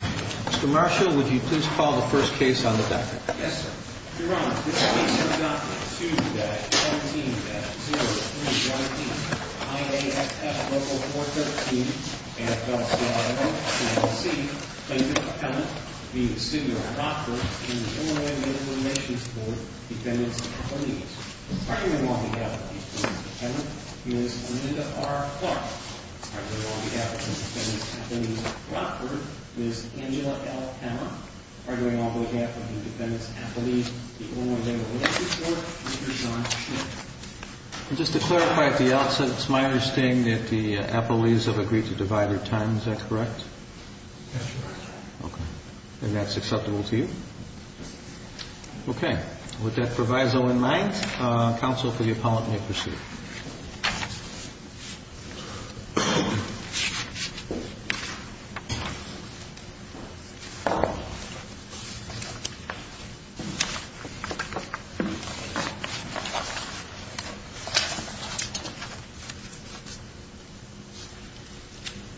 Mr. Marshall, would you please call the first case on the record? Yes, sir. Your Honor, this case is document 2-17-03-19, IAFF Local 413, AFL-CIO, LLC. Plaintiff's Appellant v. The City of Rockford in the Illinois Medical Information Support Defendant's Appendix. Arguing on behalf of the plaintiff's appellant, Ms. Linda R. Clark. Arguing on behalf of the defendant's appellant, Ms. Rockford, Ms. Angela L. Hanna. Arguing on behalf of the defendant's appellant, the Illinois Medical Information Support, Mr. Sean Smith. And just to clarify at the outset, it's my understanding that the appellees have agreed to divide their time, is that correct? That's correct, Your Honor. Okay. And that's acceptable to you? Yes. Okay. With that proviso in mind, counsel for the appellant may proceed.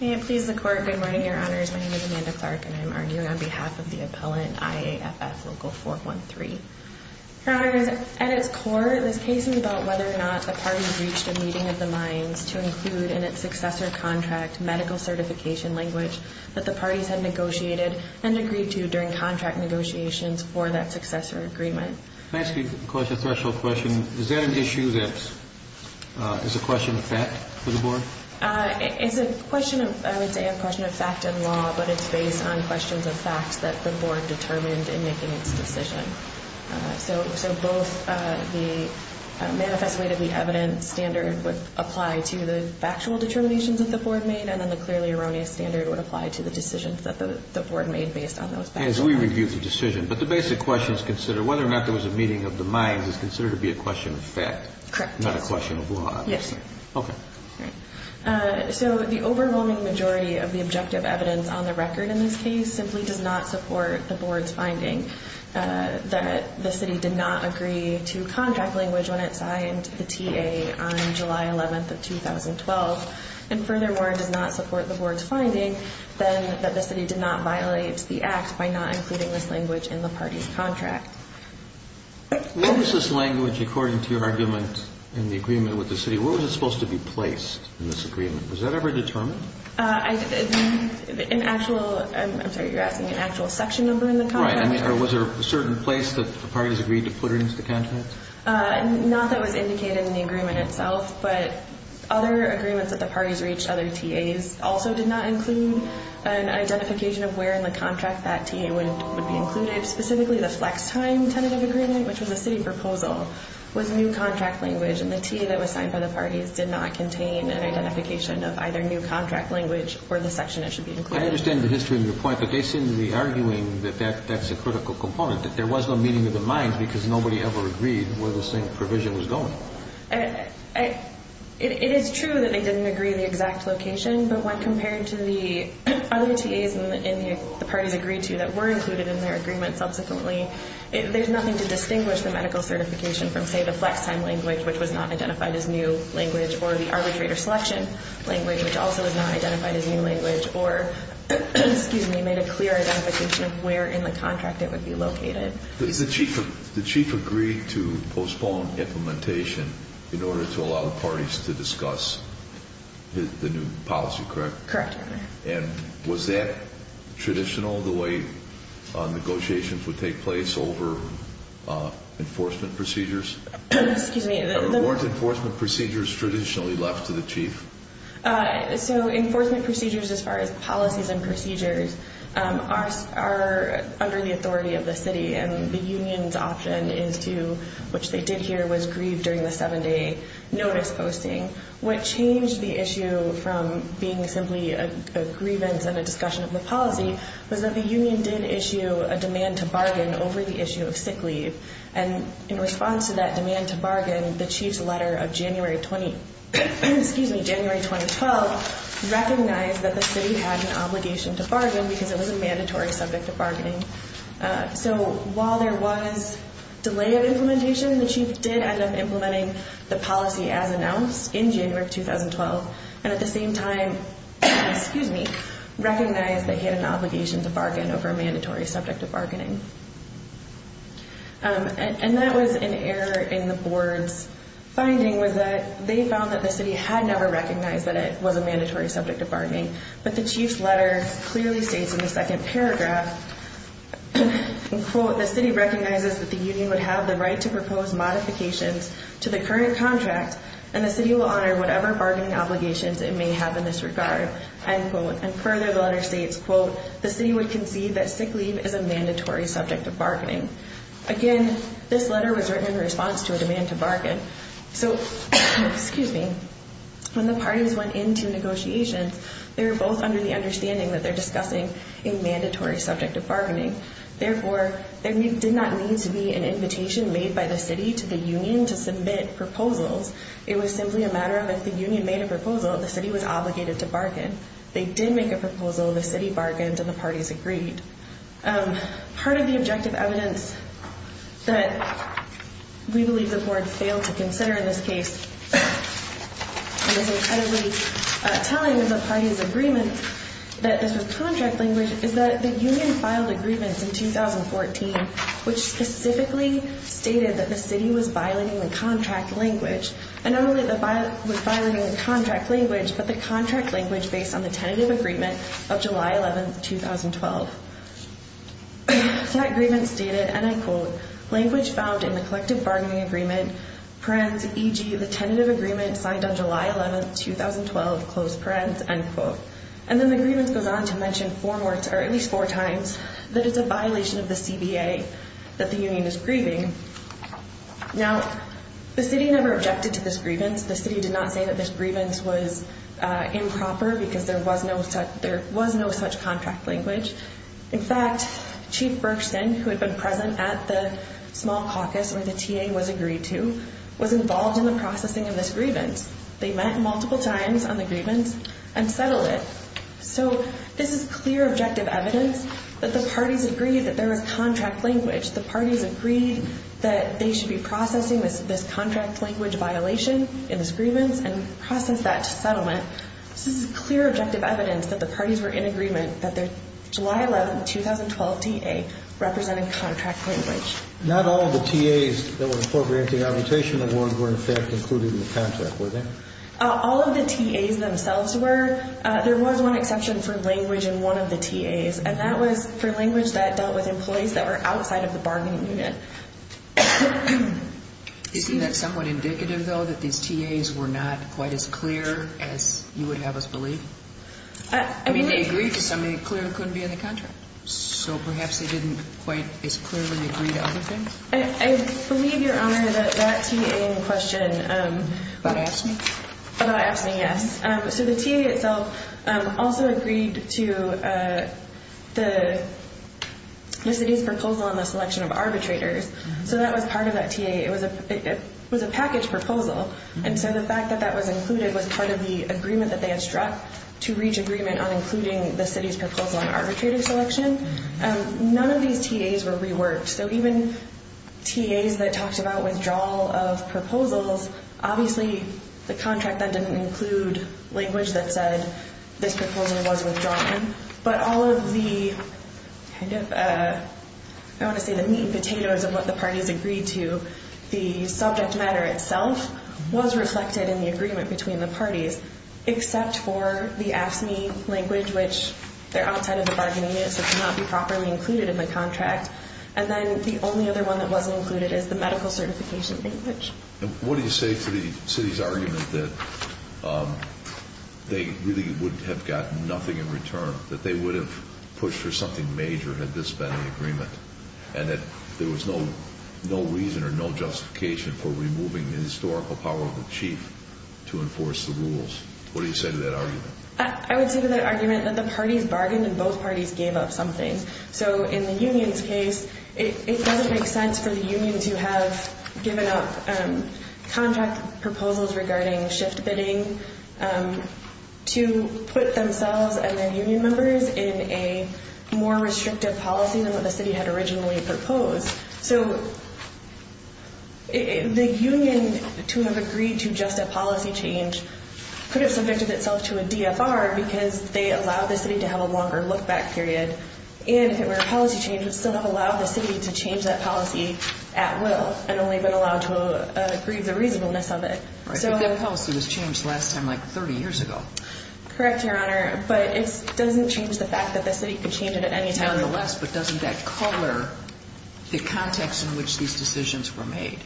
May it please the Court, good morning, Your Honors. My name is Amanda Clark and I'm arguing on behalf of the appellant, IAFF Local 413. Your Honors, at its core, this case is about whether or not the parties reached a meeting of the minds to include in its successor contract medical certification language that the parties had negotiated and agreed to during contract negotiations for that successor agreement. May I ask you a question, a threshold question? Is that an issue that's, is a question of fact for the board? It's a question of, I would say a question of fact in law, but it's based on questions of facts that the board determined in making its decision. So both the manifest way to the evidence standard would apply to the factual determinations that the board made and then the clearly erroneous standard would apply to the decisions that the board made based on those facts. As we review the decision. But the basic question is considered, whether or not there was a meeting of the minds, is considered to be a question of fact. Correct. Not a question of law, obviously. Yes. Okay. So the overwhelming majority of the objective evidence on the record in this case simply does not support the board's finding that the city did not agree to contract language when it signed the TA on July 11th of 2012 and furthermore does not support the board's finding then that the city did not violate the act by not including this language in the party's contract. What was this language according to your argument in the agreement with the city? Where was it supposed to be placed in this agreement? Was that ever determined? An actual, I'm sorry, you're asking an actual section number in the contract? Right. Or was there a certain place that the parties agreed to put it into the contract? Not that was indicated in the agreement itself, but other agreements that the parties reached, other TAs, also did not include an identification of where in the contract that TA would be included, specifically the flex time tentative agreement, which was a city proposal, was new contract language and the TA that was signed by the parties did not contain an identification of either new contract language or the section that should be included. I understand the history of your point, but they seem to be arguing that that's a critical component, that there was no meeting of the minds because nobody ever agreed where the same provision was going. It is true that they didn't agree the exact location, but when compared to the other TAs and the parties agreed to that were included in their agreement subsequently, there's nothing to distinguish the medical certification from, say, the flex time language, which was not identified as new language, or the arbitrator selection language, which also was not identified as new language, or made a clear identification of where in the contract it would be located. The chief agreed to postpone implementation in order to allow the parties to discuss the new policy, correct? Correct. And was that traditional, the way negotiations would take place over enforcement procedures? Excuse me. Are warranted enforcement procedures traditionally left to the chief? So enforcement procedures, as far as policies and procedures, are under the authority of the city, and the union's option is to, which they did here, was grieve during the seven-day notice posting. What changed the issue from being simply a grievance and a discussion of the policy was that the union did issue a demand to bargain over the issue of sick leave, and in response to that demand to bargain, the chief's letter of January 2012 recognized that the city had an obligation to bargain because it was a mandatory subject of bargaining. So while there was delay of implementation, the chief did end up implementing the policy as announced in January 2012, and at the same time recognized that he had an obligation to bargain over a mandatory subject of bargaining. And that was an error in the board's finding, was that they found that the city had never recognized that it was a mandatory subject of bargaining, but the chief's letter clearly states in the second paragraph, and quote, the city recognizes that the union would have the right to propose modifications to the current contract, and the city will honor whatever bargaining obligations it may have in this regard, end quote. And further, the letter states, quote, the city would concede that sick leave is a mandatory subject of bargaining. Again, this letter was written in response to a demand to bargain. So, excuse me, when the parties went into negotiations, they were both under the understanding that they're discussing a mandatory subject of bargaining. Therefore, there did not need to be an invitation made by the city to the union to submit proposals. It was simply a matter of if the union made a proposal, the city was obligated to bargain. If they did make a proposal, the city bargained and the parties agreed. Part of the objective evidence that we believe the board failed to consider in this case, and is incredibly telling as a party's agreement that this was contract language, is that the union filed agreements in 2014, which specifically stated that the city was violating the contract language. And not only was it violating the contract language, but the contract language based on the tentative agreement of July 11, 2012. So that agreement stated, and I quote, language found in the collective bargaining agreement, parens, e.g., the tentative agreement signed on July 11, 2012, close parens, end quote. And then the agreement goes on to mention four more, or at least four times, that it's a violation of the CBA that the union is grieving. Now, the city never objected to this grievance. The city did not say that this grievance was improper because there was no such contract language. In fact, Chief Berkson, who had been present at the small caucus where the TA was agreed to, was involved in the processing of this grievance. They met multiple times on the grievance and settled it. So this is clear objective evidence that the parties agreed that there was contract language. The parties agreed that they should be processing this contract language violation in this grievance and process that to settlement. This is clear objective evidence that the parties were in agreement that their July 11, 2012 TA represented contract language. Not all of the TAs that were appropriating arbitration awards were, in fact, included in the contract, were they? All of the TAs themselves were. There was one exception for language in one of the TAs, and that was for language that dealt with employees that were outside of the bargaining unit. Isn't that somewhat indicative, though, that these TAs were not quite as clear as you would have us believe? I mean, they agreed to something clear that couldn't be in the contract. So perhaps they didn't quite as clearly agree to other things? I believe, Your Honor, that that TA in question— About AFSCME? About AFSCME, yes. So the TA itself also agreed to the city's proposal on the selection of arbitrators. So that was part of that TA. It was a package proposal, and so the fact that that was included was part of the agreement that they had struck to reach agreement on including the city's proposal on arbitrator selection. None of these TAs were reworked. So even TAs that talked about withdrawal of proposals, obviously the contract then didn't include language that said this proposal was withdrawn. But all of the kind of—I want to say the meat and potatoes of what the parties agreed to, the subject matter itself was reflected in the agreement between the parties, except for the AFSCME language, which they're outside of the bargaining unit, so it cannot be properly included in the contract. And then the only other one that wasn't included is the medical certification language. And what do you say to the city's argument that they really would have gotten nothing in return, that they would have pushed for something major had this been an agreement, and that there was no reason or no justification for removing the historical power of the chief to enforce the rules? What do you say to that argument? I would say to that argument that the parties bargained and both parties gave up something. So in the union's case, it doesn't make sense for the union to have given up contract proposals regarding shift bidding to put themselves and their union members in a more restrictive policy than what the city had originally proposed. So the union to have agreed to just a policy change could have subjected itself to a DFR because they allowed the city to have a longer look-back period. And if it were a policy change, it would still have allowed the city to change that policy at will and only been allowed to agree the reasonableness of it. Right, but that policy was changed last time like 30 years ago. Correct, Your Honor, but it doesn't change the fact that the city could change it at any time. Nonetheless, but doesn't that color the context in which these decisions were made?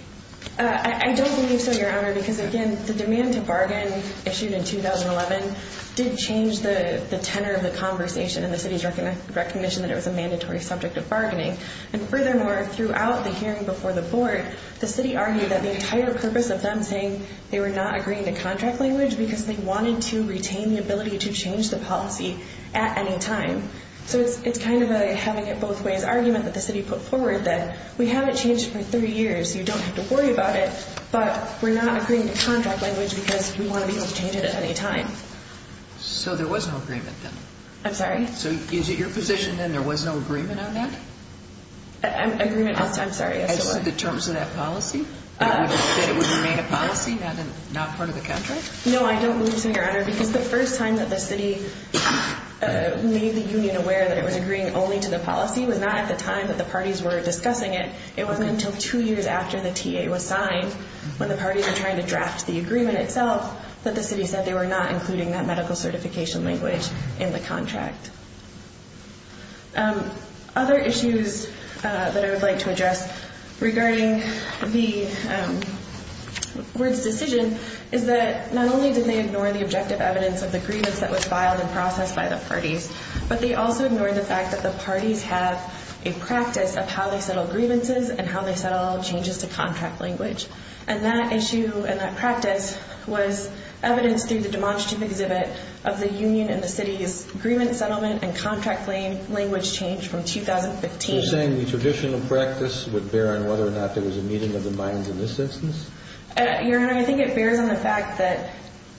I don't believe so, Your Honor, because again, the demand to bargain issued in 2011 did change the tenor of the conversation and the city's recognition that it was a mandatory subject of bargaining. And furthermore, throughout the hearing before the board, the city argued that the entire purpose of them saying they were not agreeing to contract language because they wanted to retain the ability to change the policy at any time. So it's kind of a having it both ways argument that the city put forward that we have it changed for three years. You don't have to worry about it, but we're not agreeing to contract language because we want to be able to change it at any time. So there was no agreement then? I'm sorry? So is it your position then there was no agreement on that? Agreement, I'm sorry. As to the terms of that policy? That it would remain a policy, not part of the contract? No, I don't believe so, Your Honor, because the first time that the city made the union aware that it was agreeing only to the policy was not at the time that the parties were discussing it. It wasn't until two years after the TA was signed when the parties were trying to draft the agreement itself that the city said they were not including that medical certification language in the contract. Other issues that I would like to address regarding the board's decision is that not only did they ignore the objective evidence of the grievance that was filed and processed by the parties, but they also ignored the fact that the parties have a practice of how they settle grievances and how they settle changes to contract language. And that issue and that practice was evidenced through the demonstrative exhibit of the union and the city's grievance settlement and contract language change from 2015. So you're saying the traditional practice would bear on whether or not there was a meeting of the minds in this instance? Your Honor, I think it bears on the fact that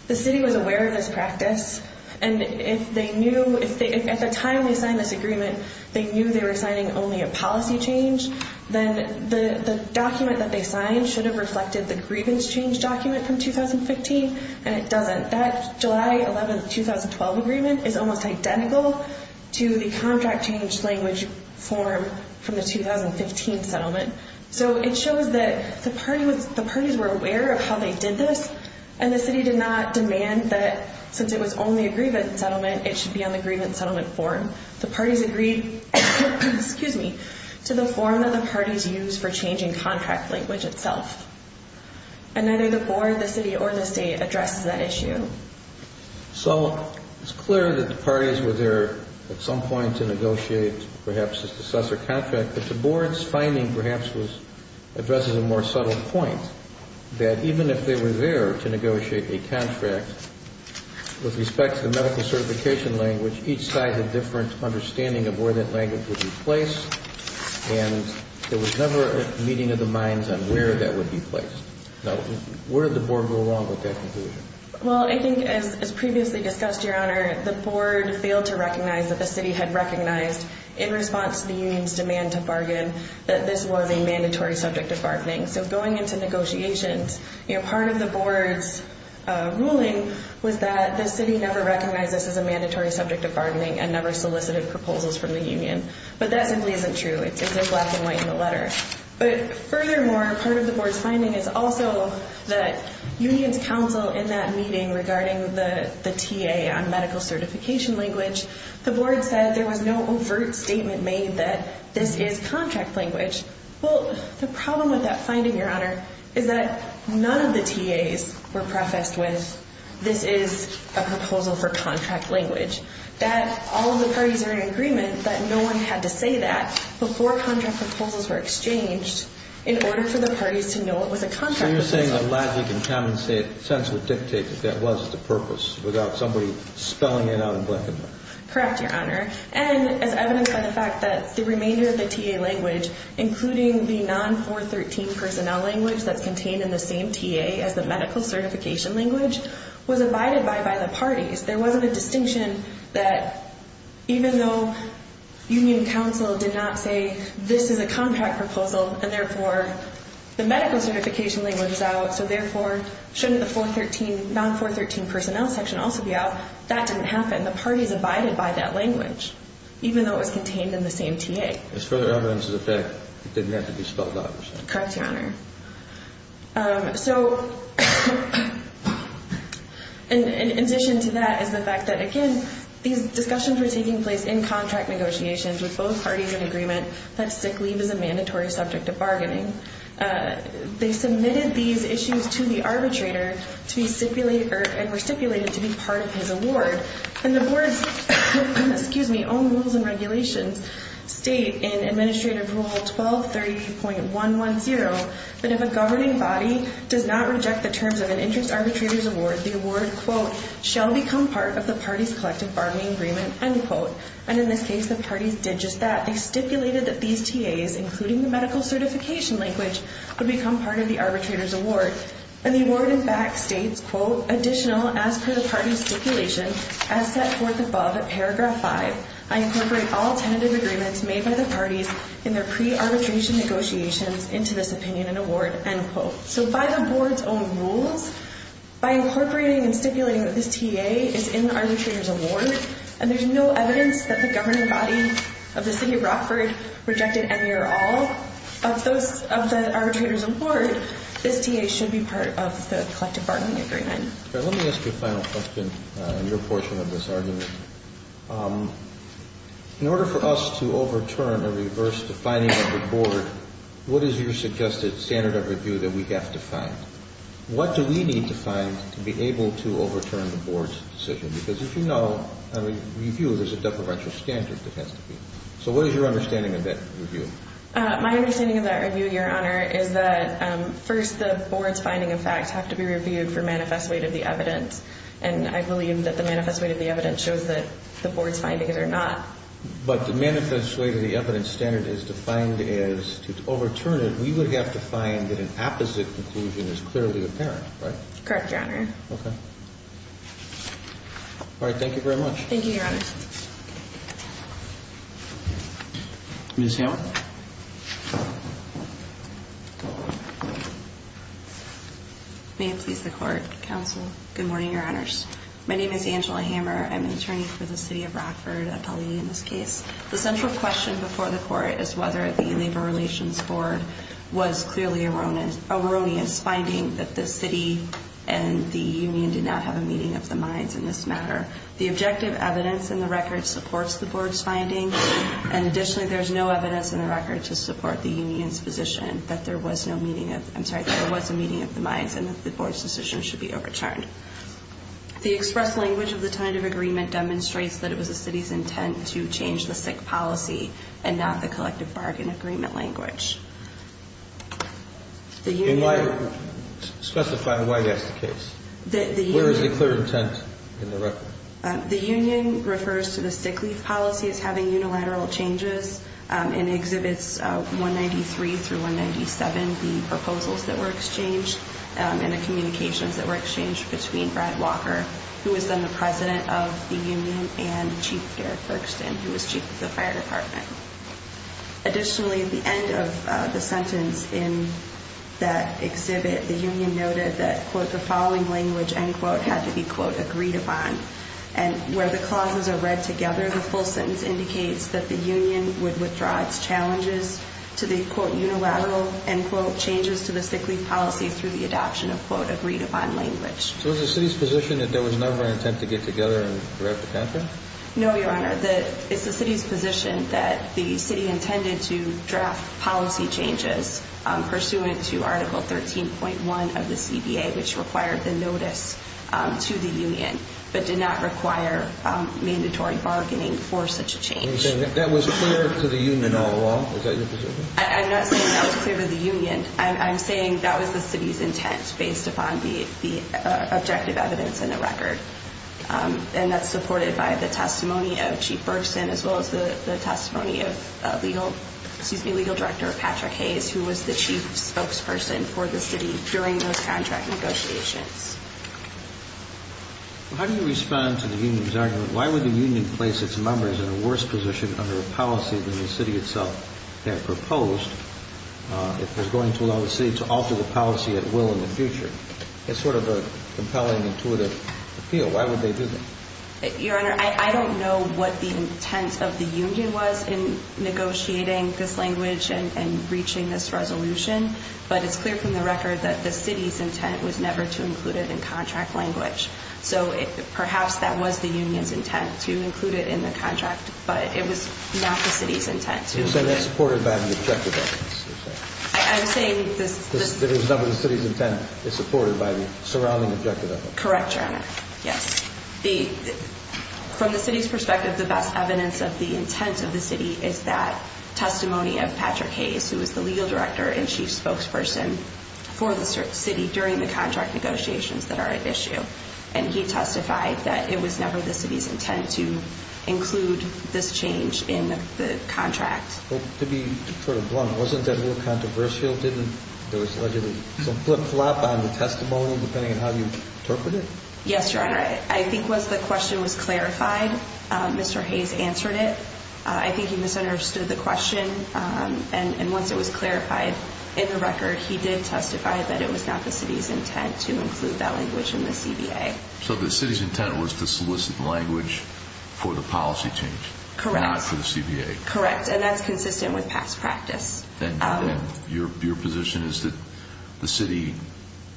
the city was aware of this practice, and if at the time they signed this agreement they knew they were signing only a policy change, then the document that they signed should have reflected the grievance change document from 2015, and it doesn't. That July 11, 2012 agreement is almost identical to the contract change language form from the 2015 settlement. So it shows that the parties were aware of how they did this, and the city did not demand that since it was only a grievance settlement it should be on the grievance settlement form. The parties agreed to the form that the parties used for changing contract language itself, and neither the board, the city, or the state addressed that issue. So it's clear that the parties were there at some point to negotiate perhaps a successor contract, but the board's finding perhaps addresses a more subtle point, that even if they were there to negotiate a contract with respect to the medical certification language, each side had a different understanding of where that language would be placed, and there was never a meeting of the minds on where that would be placed. Now, where did the board go wrong with that conclusion? Well, I think as previously discussed, Your Honor, the board failed to recognize that the city had recognized in response to the union's demand to bargain that this was a mandatory subject of bargaining. So going into negotiations, part of the board's ruling was that the city never recognized this as a mandatory subject of bargaining and never solicited proposals from the union, but that simply isn't true. But furthermore, part of the board's finding is also that union's counsel in that meeting regarding the TA on medical certification language, the board said there was no overt statement made that this is contract language. Well, the problem with that finding, Your Honor, is that none of the TAs were prefaced with, this is a proposal for contract language, that all of the parties are in agreement that no one had to say that before contract proposals were exchanged in order for the parties to know it was a contract proposal. So you're saying a logic and common sense would dictate that that was the purpose without somebody spelling it out and blanking on it. Correct, Your Honor. And as evidenced by the fact that the remainder of the TA language, including the non-413 personnel language that's contained in the same TA as the medical certification language, was abided by by the parties. There wasn't a distinction that even though union counsel did not say this is a contract proposal and therefore the medical certification language is out, so therefore shouldn't the non-413 personnel section also be out? That didn't happen. The parties abided by that language, even though it was contained in the same TA. As further evidence of the fact, it didn't have to be spelled out or something. Correct, Your Honor. So in addition to that is the fact that, again, these discussions were taking place in contract negotiations with both parties in agreement that sick leave is a mandatory subject of bargaining. They submitted these issues to the arbitrator and were stipulated to be part of his award. And the board's own rules and regulations state in Administrative Rule 1230.110 that if a governing body does not reject the terms of an interest arbitrator's award, the award, quote, shall become part of the party's collective bargaining agreement, end quote. And in this case, the parties did just that. They stipulated that these TAs, including the medical certification language, would become part of the arbitrator's award. And the award, in fact, states, quote, additional, as per the party's stipulation, as set forth above at paragraph 5, I incorporate all tentative agreements made by the parties in their pre-arbitration negotiations into this opinion and award, end quote. So by the board's own rules, by incorporating and stipulating that this TA is in the arbitrator's award and there's no evidence that the governing body of the city of Rockford rejected any or all of those of the arbitrator's award, this TA should be part of the collective bargaining agreement. Let me ask you a final question on your portion of this argument. In order for us to overturn or reverse the finding of the board, what is your suggested standard of review that we have to find? What do we need to find to be able to overturn the board's decision? Because as you know, in a review, there's a depreventive standard that has to be. So what is your understanding of that review? My understanding of that review, Your Honor, is that first the board's finding of facts have to be reviewed for manifest weight of the evidence. And I believe that the manifest weight of the evidence shows that the board's findings are not. But the manifest weight of the evidence standard is defined as to overturn it, we would have to find that an opposite conclusion is clearly apparent, right? Correct, Your Honor. Okay. All right, thank you very much. Thank you, Your Honor. Ms. Hammer? May it please the Court, Counsel. Good morning, Your Honors. My name is Angela Hammer. I'm an attorney for the City of Rockford, a Pelley in this case. The central question before the Court is whether the Labor Relations Board was clearly erroneous, finding that the city and the union did not have a meeting of the minds in this matter. The objective evidence in the record supports the board's findings, and additionally there is no evidence in the record to support the union's position that there was no meeting of the minds and that the board's decision should be overturned. The express language of the tentative agreement demonstrates that it was the city's intent to change the sick policy and not the collective bargain agreement language. Can you specify why that's the case? Where is the clear intent in the record? The union refers to the sick leave policy as having unilateral changes in Exhibits 193 through 197, the proposals that were exchanged and the communications that were exchanged between Brad Walker, who was then the president of the union, and Chief Garrett Bergsten, who was chief of the fire department. Additionally, at the end of the sentence in that exhibit, the union noted that, quote, the following language, end quote, had to be, quote, agreed upon. And where the clauses are read together, the full sentence indicates that the union would withdraw its challenges to the, quote, unilateral, end quote, changes to the sick leave policy through the adoption of, quote, agreed upon language. So is the city's position that there was never an intent to get together and wrap the contract? No, Your Honor. It's the city's position that the city intended to draft policy changes pursuant to Article 13.1 of the CBA, which required the notice to the union, but did not require mandatory bargaining for such a change. Are you saying that that was clear to the union all along? Is that your position? I'm not saying that was clear to the union. I'm saying that was the city's intent based upon the objective evidence in the record, and that's supported by the testimony of Chief Bergsten as well as the testimony of legal director Patrick Hayes, who was the chief spokesperson for the city during those contract negotiations. How do you respond to the union's argument, why would the union place its members in a worse position under a policy than the city itself had proposed if it was going to allow the city to alter the policy at will in the future? It's sort of a compelling, intuitive appeal. Why would they do that? Your Honor, I don't know what the intent of the union was in negotiating this language and reaching this resolution, but it's clear from the record that the city's intent was never to include it in contract language. So perhaps that was the union's intent to include it in the contract, but it was not the city's intent to include it. You're saying that's supported by the objective evidence. I'm saying this. The city's intent is supported by the surrounding objective evidence. Correct, Your Honor. Yes. From the city's perspective, the best evidence of the intent of the city is that testimony of Patrick Hayes, who was the legal director and chief spokesperson for the city during the contract negotiations that are at issue, and he testified that it was never the city's intent to include this change in the contract. To be sort of blunt, wasn't that a little controversial? Didn't there allegedly flip-flop on the testimony, depending on how you interpret it? Yes, Your Honor. I think once the question was clarified, Mr. Hayes answered it. I think he misunderstood the question, and once it was clarified in the record, he did testify that it was not the city's intent to include that language in the CBA. So the city's intent was to solicit language for the policy change. Correct. Not for the CBA. Correct, and that's consistent with past practice. Then your position is that the city,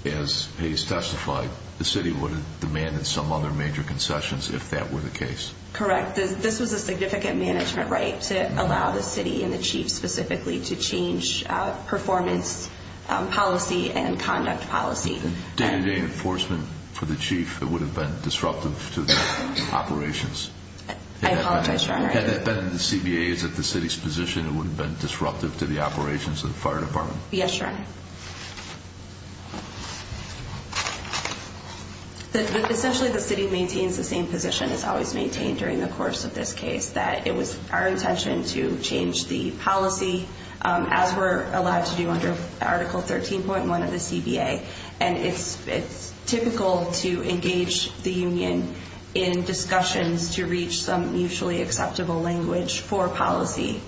as Hayes testified, the city would have demanded some other major concessions if that were the case. Correct. This was a significant management right to allow the city and the chief specifically to change performance policy and conduct policy. Day-to-day enforcement for the chief, it would have been disruptive to the operations. I apologize, Your Honor. Had that been in the CBA's, at the city's position, it would have been disruptive to the operations of the fire department. Yes, Your Honor. Essentially, the city maintains the same position, as always maintained during the course of this case, that it was our intention to change the policy, as we're allowed to do under Article 13.1 of the CBA, and it's typical to engage the union in discussions to reach some mutually acceptable language for policy,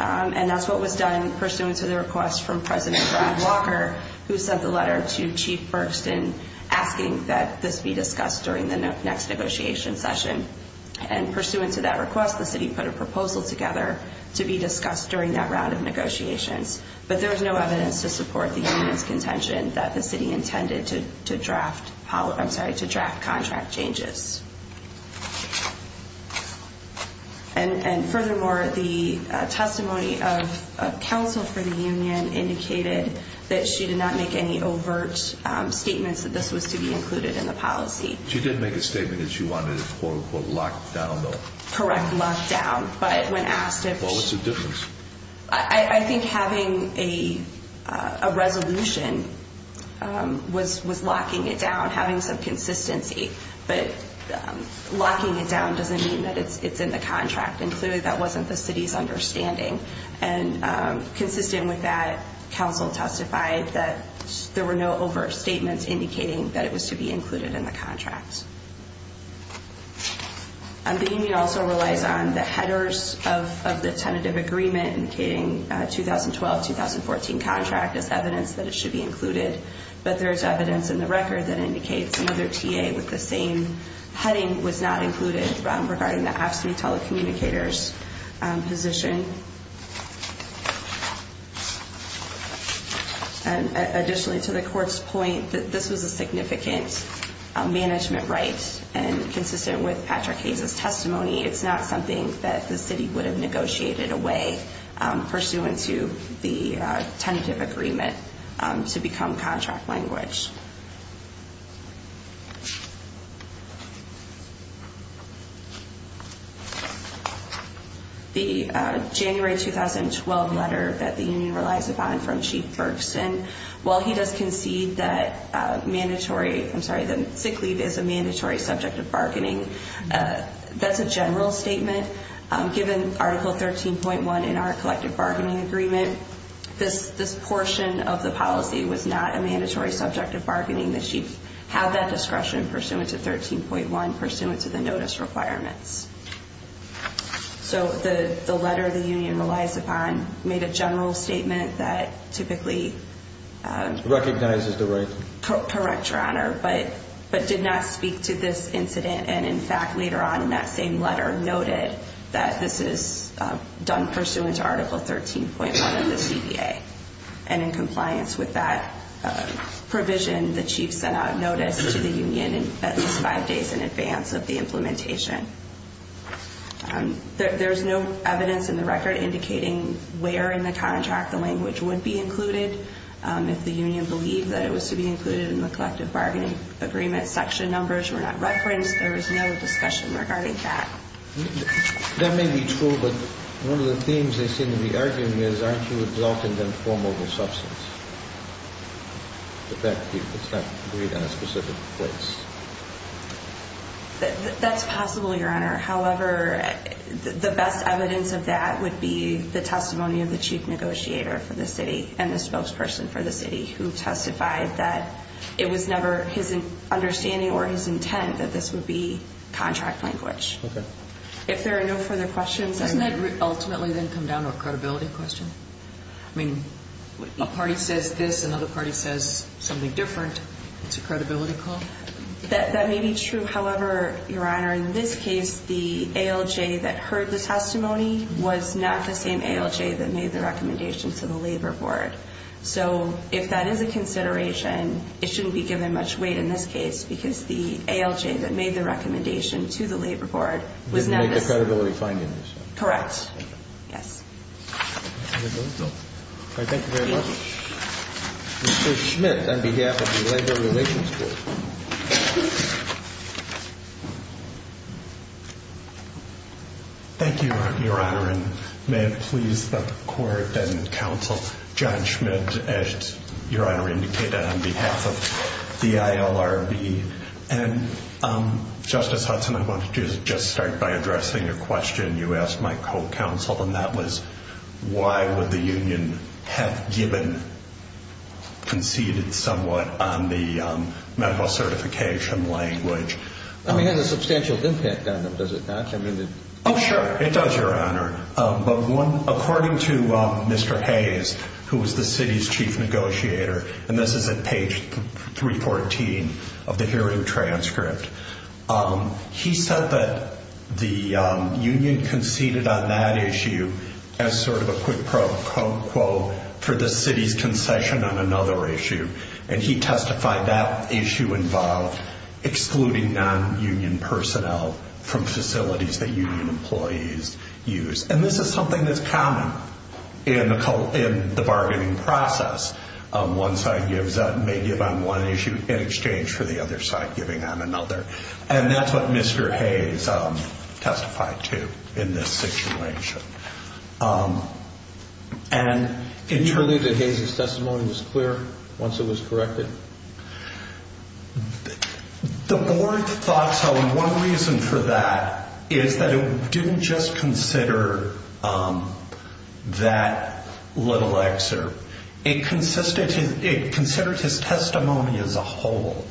and that's what was done pursuant to the request from President John Walker who sent the letter to Chief Berkston asking that this be discussed during the next negotiation session. And pursuant to that request, the city put a proposal together to be discussed during that round of negotiations, but there was no evidence to support the union's contention that the city intended to draft contract changes. And furthermore, the testimony of counsel for the union indicated that she did not make any overt statements that this was to be included in the policy. She did make a statement that she wanted it, quote-unquote, locked down, though. Correct, locked down, but when asked if she... Well, what's the difference? I think having a resolution was locking it down, having some consistency, but locking it down doesn't mean that it's in the contract, and clearly that wasn't the city's understanding. And consistent with that, counsel testified that there were no overt statements indicating that it was to be included in the contract. The union also relies on the headers of the tentative agreement indicating 2012-2014 contract as evidence that it should be included, but there's evidence in the record that indicates another TA with the same heading was not included regarding the AFSCME telecommunicators position. Additionally, to the court's point, this was a significant management right, and consistent with Patrick Hayes' testimony, it's not something that the city would have negotiated away pursuant to the tentative agreement to become contract language. The January 2012 letter that the union relies upon from Chief Bergsten, while he does concede that mandatory... I'm sorry, that sick leave is a mandatory subject of bargaining, that's a general statement. Given Article 13.1 in our collective bargaining agreement, this portion of the policy was not a mandatory subject of bargaining. The chief had that discretion pursuant to 13.1, and pursuant to the notice requirements. So the letter the union relies upon made a general statement that typically... Recognizes the right to... Correct, Your Honor, but did not speak to this incident, and in fact, later on in that same letter, noted that this is done pursuant to Article 13.1 of the CBA. And in compliance with that provision, the chief sent out a notice to the union at least five days in advance of the implementation. There's no evidence in the record indicating where in the contract the language would be included. If the union believed that it was to be included in the collective bargaining agreement, section numbers were not referenced. There was no discussion regarding that. That may be true, but one of the themes they seem to be arguing is aren't you exalting the informal substance? The fact that it's not agreed on a specific place. That's possible, Your Honor. However, the best evidence of that would be the testimony of the chief negotiator for the city, and the spokesperson for the city, who testified that it was never his understanding or his intent that this would be contract language. Okay. If there are no further questions... Wouldn't that ultimately then come down to a credibility question? I mean, a party says this, another party says something different. It's a credibility call. That may be true. However, Your Honor, in this case, the ALJ that heard the testimony was not the same ALJ that made the recommendation to the labor board. So if that is a consideration, it shouldn't be given much weight in this case because the ALJ that made the recommendation to the labor board was not... Correct. Yes. Thank you very much. Mr. Schmidt, on behalf of the Labor Relations Board. Thank you, Your Honor, and may it please the court and counsel, John Schmidt, as Your Honor indicated, on behalf of the ILRB, and Justice Hudson, I want to just start by addressing your question. You asked my co-counsel, and that was, why would the union have given, conceded somewhat on the medical certification language? I mean, it has a substantial impact on them, does it not? Oh, sure. It does, Your Honor, but according to Mr. Hayes, who was the city's chief negotiator, and this is at page 314 of the hearing transcript, he said that the union conceded on that issue as sort of a quid pro quo for the city's concession on another issue, and he testified that issue involved excluding non-union personnel from facilities that union employees use, and this is something that's common in the bargaining process. One side may give on one issue in exchange for the other side giving on another, and that's what Mr. Hayes testified to in this situation. And did you believe that Hayes' testimony was clear once it was corrected? The board thought so, and one reason for that is that it didn't just consider that little excerpt. It considered his testimony as a whole,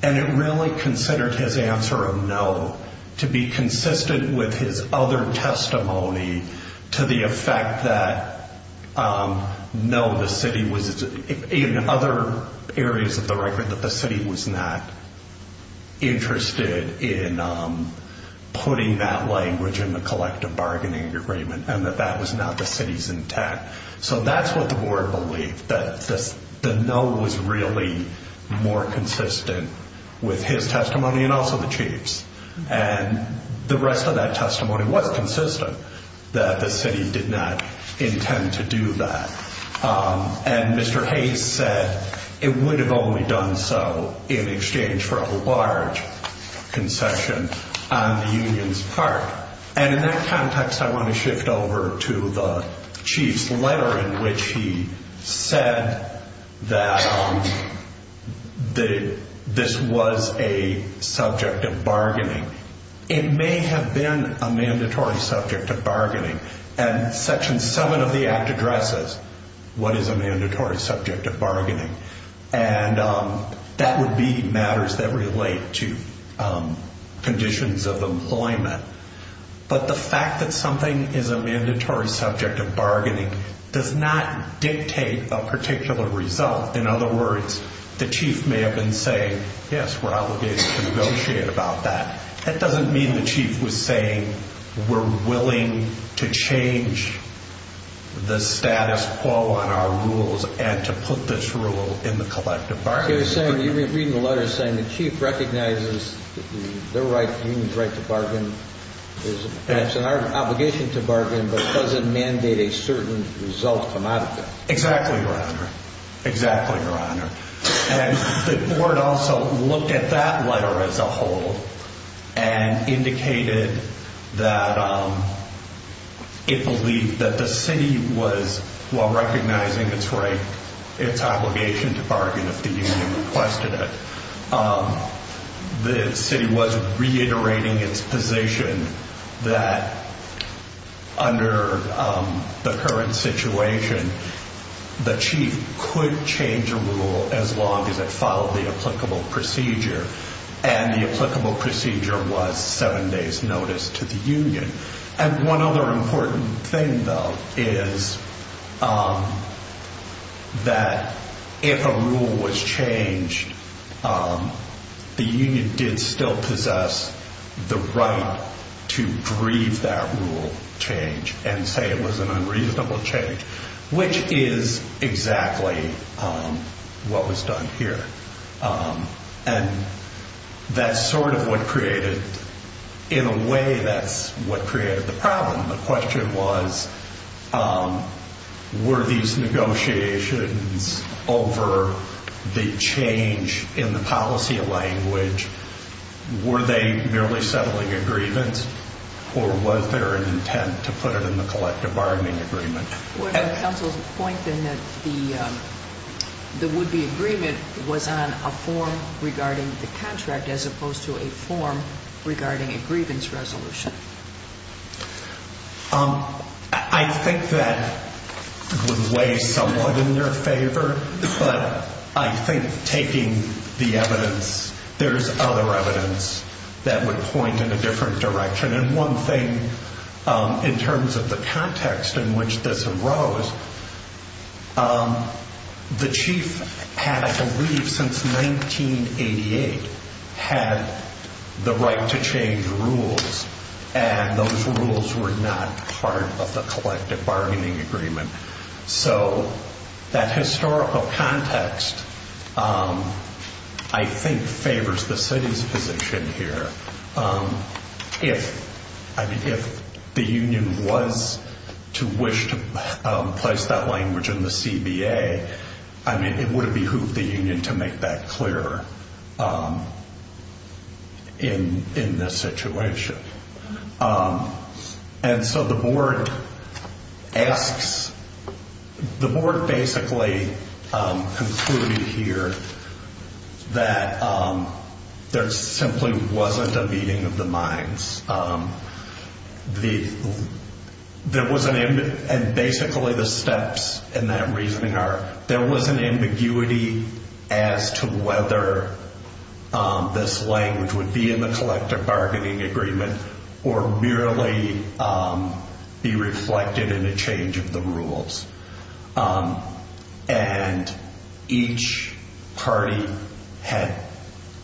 and it really considered his answer of no to be consistent with his other testimony to the effect that no, the city was, in other areas of the record, that the city was not interested in putting that language in the collective bargaining agreement and that that was not the city's intent. So that's what the board believed, that the no was really more consistent with his testimony and also the chief's, and the rest of that testimony was consistent that the city did not intend to do that. And Mr. Hayes said it would have only done so in exchange for a large concession on the union's part, and in that context, I want to shift over to the chief's letter in which he said that this was a subject of bargaining. It may have been a mandatory subject of bargaining, and Section 7 of the Act addresses what is a mandatory subject of bargaining, and that would be matters that relate to conditions of employment. But the fact that something is a mandatory subject of bargaining does not dictate a particular result. In other words, the chief may have been saying, yes, we're obligated to negotiate about that. That doesn't mean the chief was saying we're willing to change the status quo on our rules and to put this rule in the collective bargaining. You're reading the letter saying the chief recognizes the union's right to bargain. It's an obligation to bargain, but it doesn't mandate a certain result come out of that. Exactly, Your Honor. The board also looked at that letter as a whole and indicated that it believed that the city was, while recognizing its right, its obligation to bargain if the union requested it, the city was reiterating its position that, under the current situation, the chief could change a rule as long as it followed the applicable procedure, and the applicable procedure was 7 days' notice to the union. And one other important thing, though, is that if a rule was changed, the union did still possess the right to grieve that rule change and say it was an unreasonable change, which is exactly what was done here. And that's sort of what created, in a way, that's what created the problem. The question was, were these negotiations over the change in the policy language, were they merely settling agreements, or was there an intent to put it in the collective bargaining agreement? Well, the counsel's point, then, that the would-be agreement was on a form regarding the contract as opposed to a form regarding a grievance resolution. I think that would weigh somewhat in their favor, but I think taking the evidence, there is other evidence that would point in a different direction. And one thing, in terms of the context in which this arose, the chief had, I believe, since 1988, had the right to change rules, and those rules were not part of the collective bargaining agreement. So that historical context, I think, favors the city's position here. If the union was to wish to place that language in the CBA, it would behoove the union to make that clear in this situation. And so the board asks, the board basically concluded here that there simply wasn't a meeting of the minds. And basically the steps in that reasoning are, there was an ambiguity as to whether this language would be in the collective bargaining agreement or merely be reflected in a change of the rules. And each party had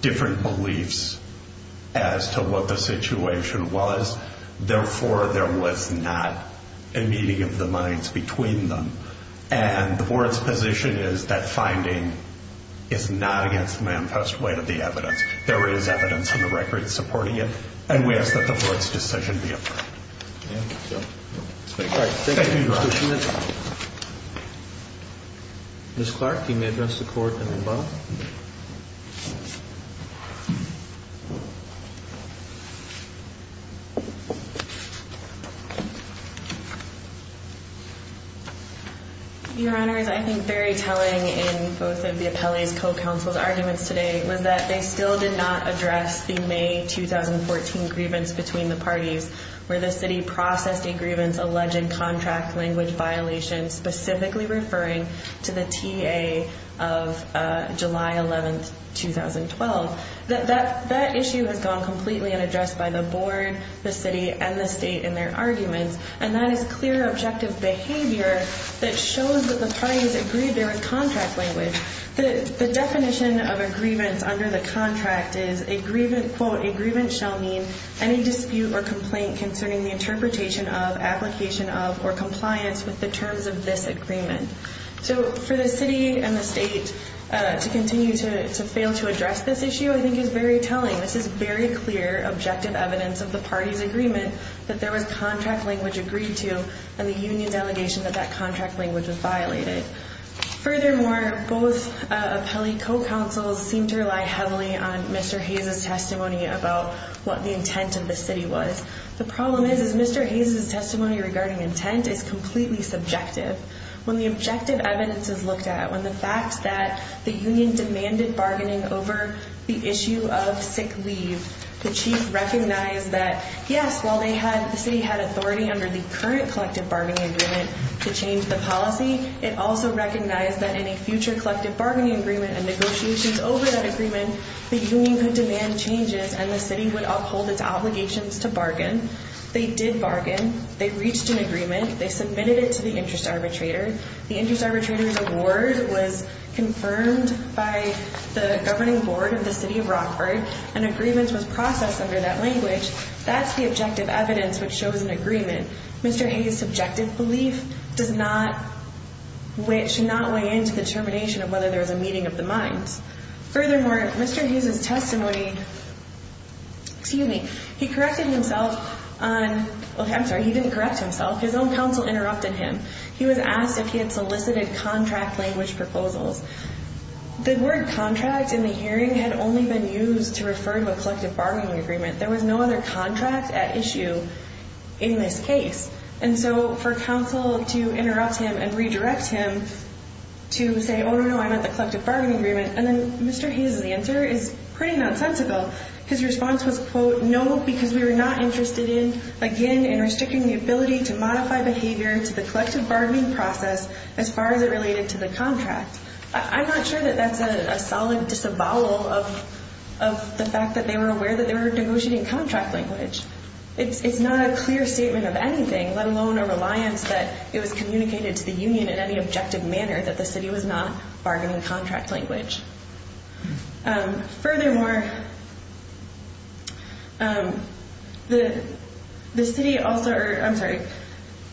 different beliefs as to what the situation was. Therefore, there was not a meeting of the minds between them. And the board's position is that finding is not against the manifest weight of the evidence. There is evidence on the record supporting it, and we ask that the board's decision be approved. All right. Thank you, Mr. Schmidt. Ms. Clark, can you address the court in the middle? Your Honors, I think very telling in both of the appellee's co-counsel's arguments today was that they still did not address the May 2014 grievance between the parties where the city processed a grievance-alleged contract language violation specifically referring to the TA of July 11, 2012. That issue has gone completely unaddressed by the board, the city, and the state in their arguments. And that is clear, objective behavior that shows that the parties agreed there was contract language. The definition of a grievance under the contract is, quote, a grievance shall mean any dispute or complaint concerning the interpretation of, application of, or compliance with the terms of this agreement. So for the city and the state to continue to fail to address this issue I think is very telling. This is very clear, objective evidence of the parties' agreement that there was contract language agreed to and the union's allegation that that contract language was violated. Furthermore, both appellee co-counsels seem to rely heavily on Mr. Hayes' testimony about what the intent of the city was. The problem is, is Mr. Hayes' testimony regarding intent is completely subjective. When the objective evidence is looked at, when the fact that the union demanded bargaining over the issue of sick leave, the chief recognized that, yes, while the city had authority under the current collective bargaining agreement to change the policy, it also recognized that in a future collective bargaining agreement and negotiations over that agreement, the union could demand changes and the city would uphold its obligations to bargain. They did bargain. They reached an agreement. They submitted it to the interest arbitrator. The interest arbitrator's award was confirmed by the governing board of the city of Rockford, and agreements was processed under that language. That's the objective evidence which shows an agreement. Mr. Hayes' subjective belief does not weigh into the determination of whether there was a meeting of the minds. Furthermore, Mr. Hayes' testimony, excuse me, he corrected himself on, okay, I'm sorry, he didn't correct himself. His own counsel interrupted him. He was asked if he had solicited contract language proposals. The word contract in the hearing had only been used to refer to a collective bargaining agreement. There was no other contract at issue in this case. And so for counsel to interrupt him and redirect him to say, oh, no, no, I'm at the collective bargaining agreement, and then Mr. Hayes' answer is pretty nonsensical. His response was, quote, no, because we were not interested in, again, in restricting the ability to modify behavior to the collective bargaining process as far as it related to the contract. I'm not sure that that's a solid disavowal of the fact that they were aware that they were negotiating contract language. It's not a clear statement of anything, let alone a reliance that it was communicated to the union in any objective manner that the city was not bargaining contract language. Furthermore, the city also, I'm sorry,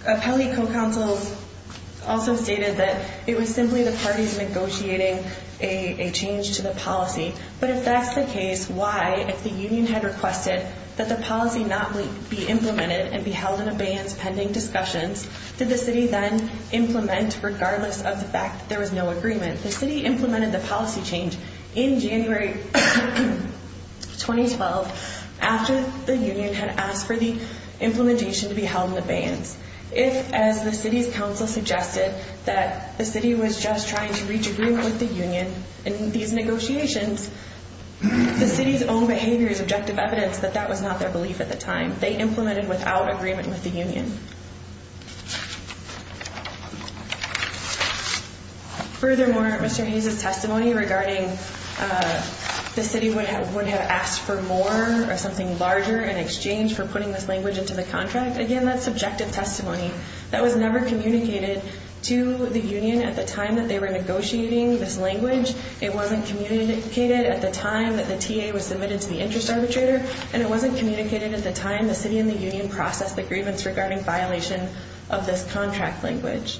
appellate co-counsels also stated that it was simply the parties negotiating a change to the policy. But if that's the case, why, if the union had requested that the policy not be implemented and be held in abeyance pending discussions, did the city then implement regardless of the fact that there was no agreement? The city implemented the policy change in January 2012 after the union had asked for the implementation to be held in abeyance. If, as the city's counsel suggested, that the city was just trying to reach agreement with the union in these negotiations, the city's own behavior is objective evidence that that was not their belief at the time. They implemented without agreement with the union. Furthermore, Mr. Hayes' testimony regarding the city would have asked for more or something larger in exchange for putting this language into the contract, again, that's subjective testimony. That was never communicated to the union at the time that they were negotiating this language. It wasn't communicated at the time that the TA was submitted to the interest arbitrator, and it wasn't communicated at the time the city and the union processed the grievance regarding violation of this contract language.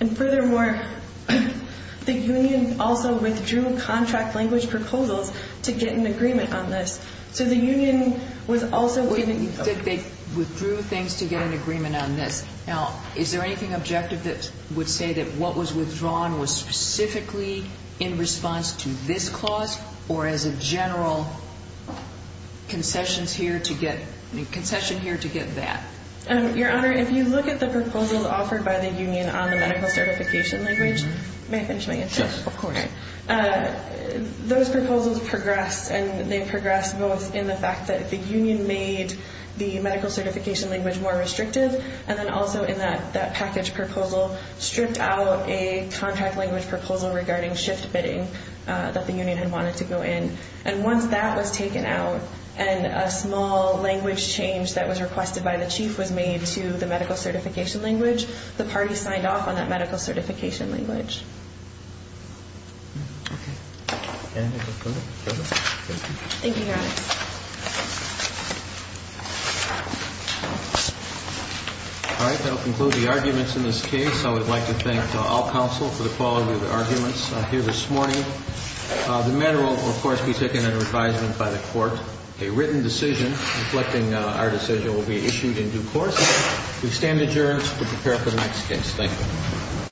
And furthermore, the union also withdrew contract language proposals to get an agreement on this. So the union was also – Wait a minute. You said they withdrew things to get an agreement on this. Now, is there anything objective that would say that what was withdrawn was specifically in response to this clause or as a general concession here to get that? Your Honor, if you look at the proposals offered by the union on the medical certification language – may I finish my answer? Yes, of course. Those proposals progressed, and they progressed both in the fact that the union made the medical certification language more restrictive and then also in that package proposal stripped out a contract language proposal regarding shift bidding that the union had wanted to go in. And once that was taken out and a small language change that was requested by the chief was made to the medical certification language, the party signed off on that medical certification language. Okay. Thank you, Your Honor. All right. That will conclude the arguments in this case. I would like to thank all counsel for the quality of the arguments here this morning. The matter will, of course, be taken under advisement by the court. A written decision reflecting our decision will be issued in due course. We stand adjourned to prepare for the next case. Thank you.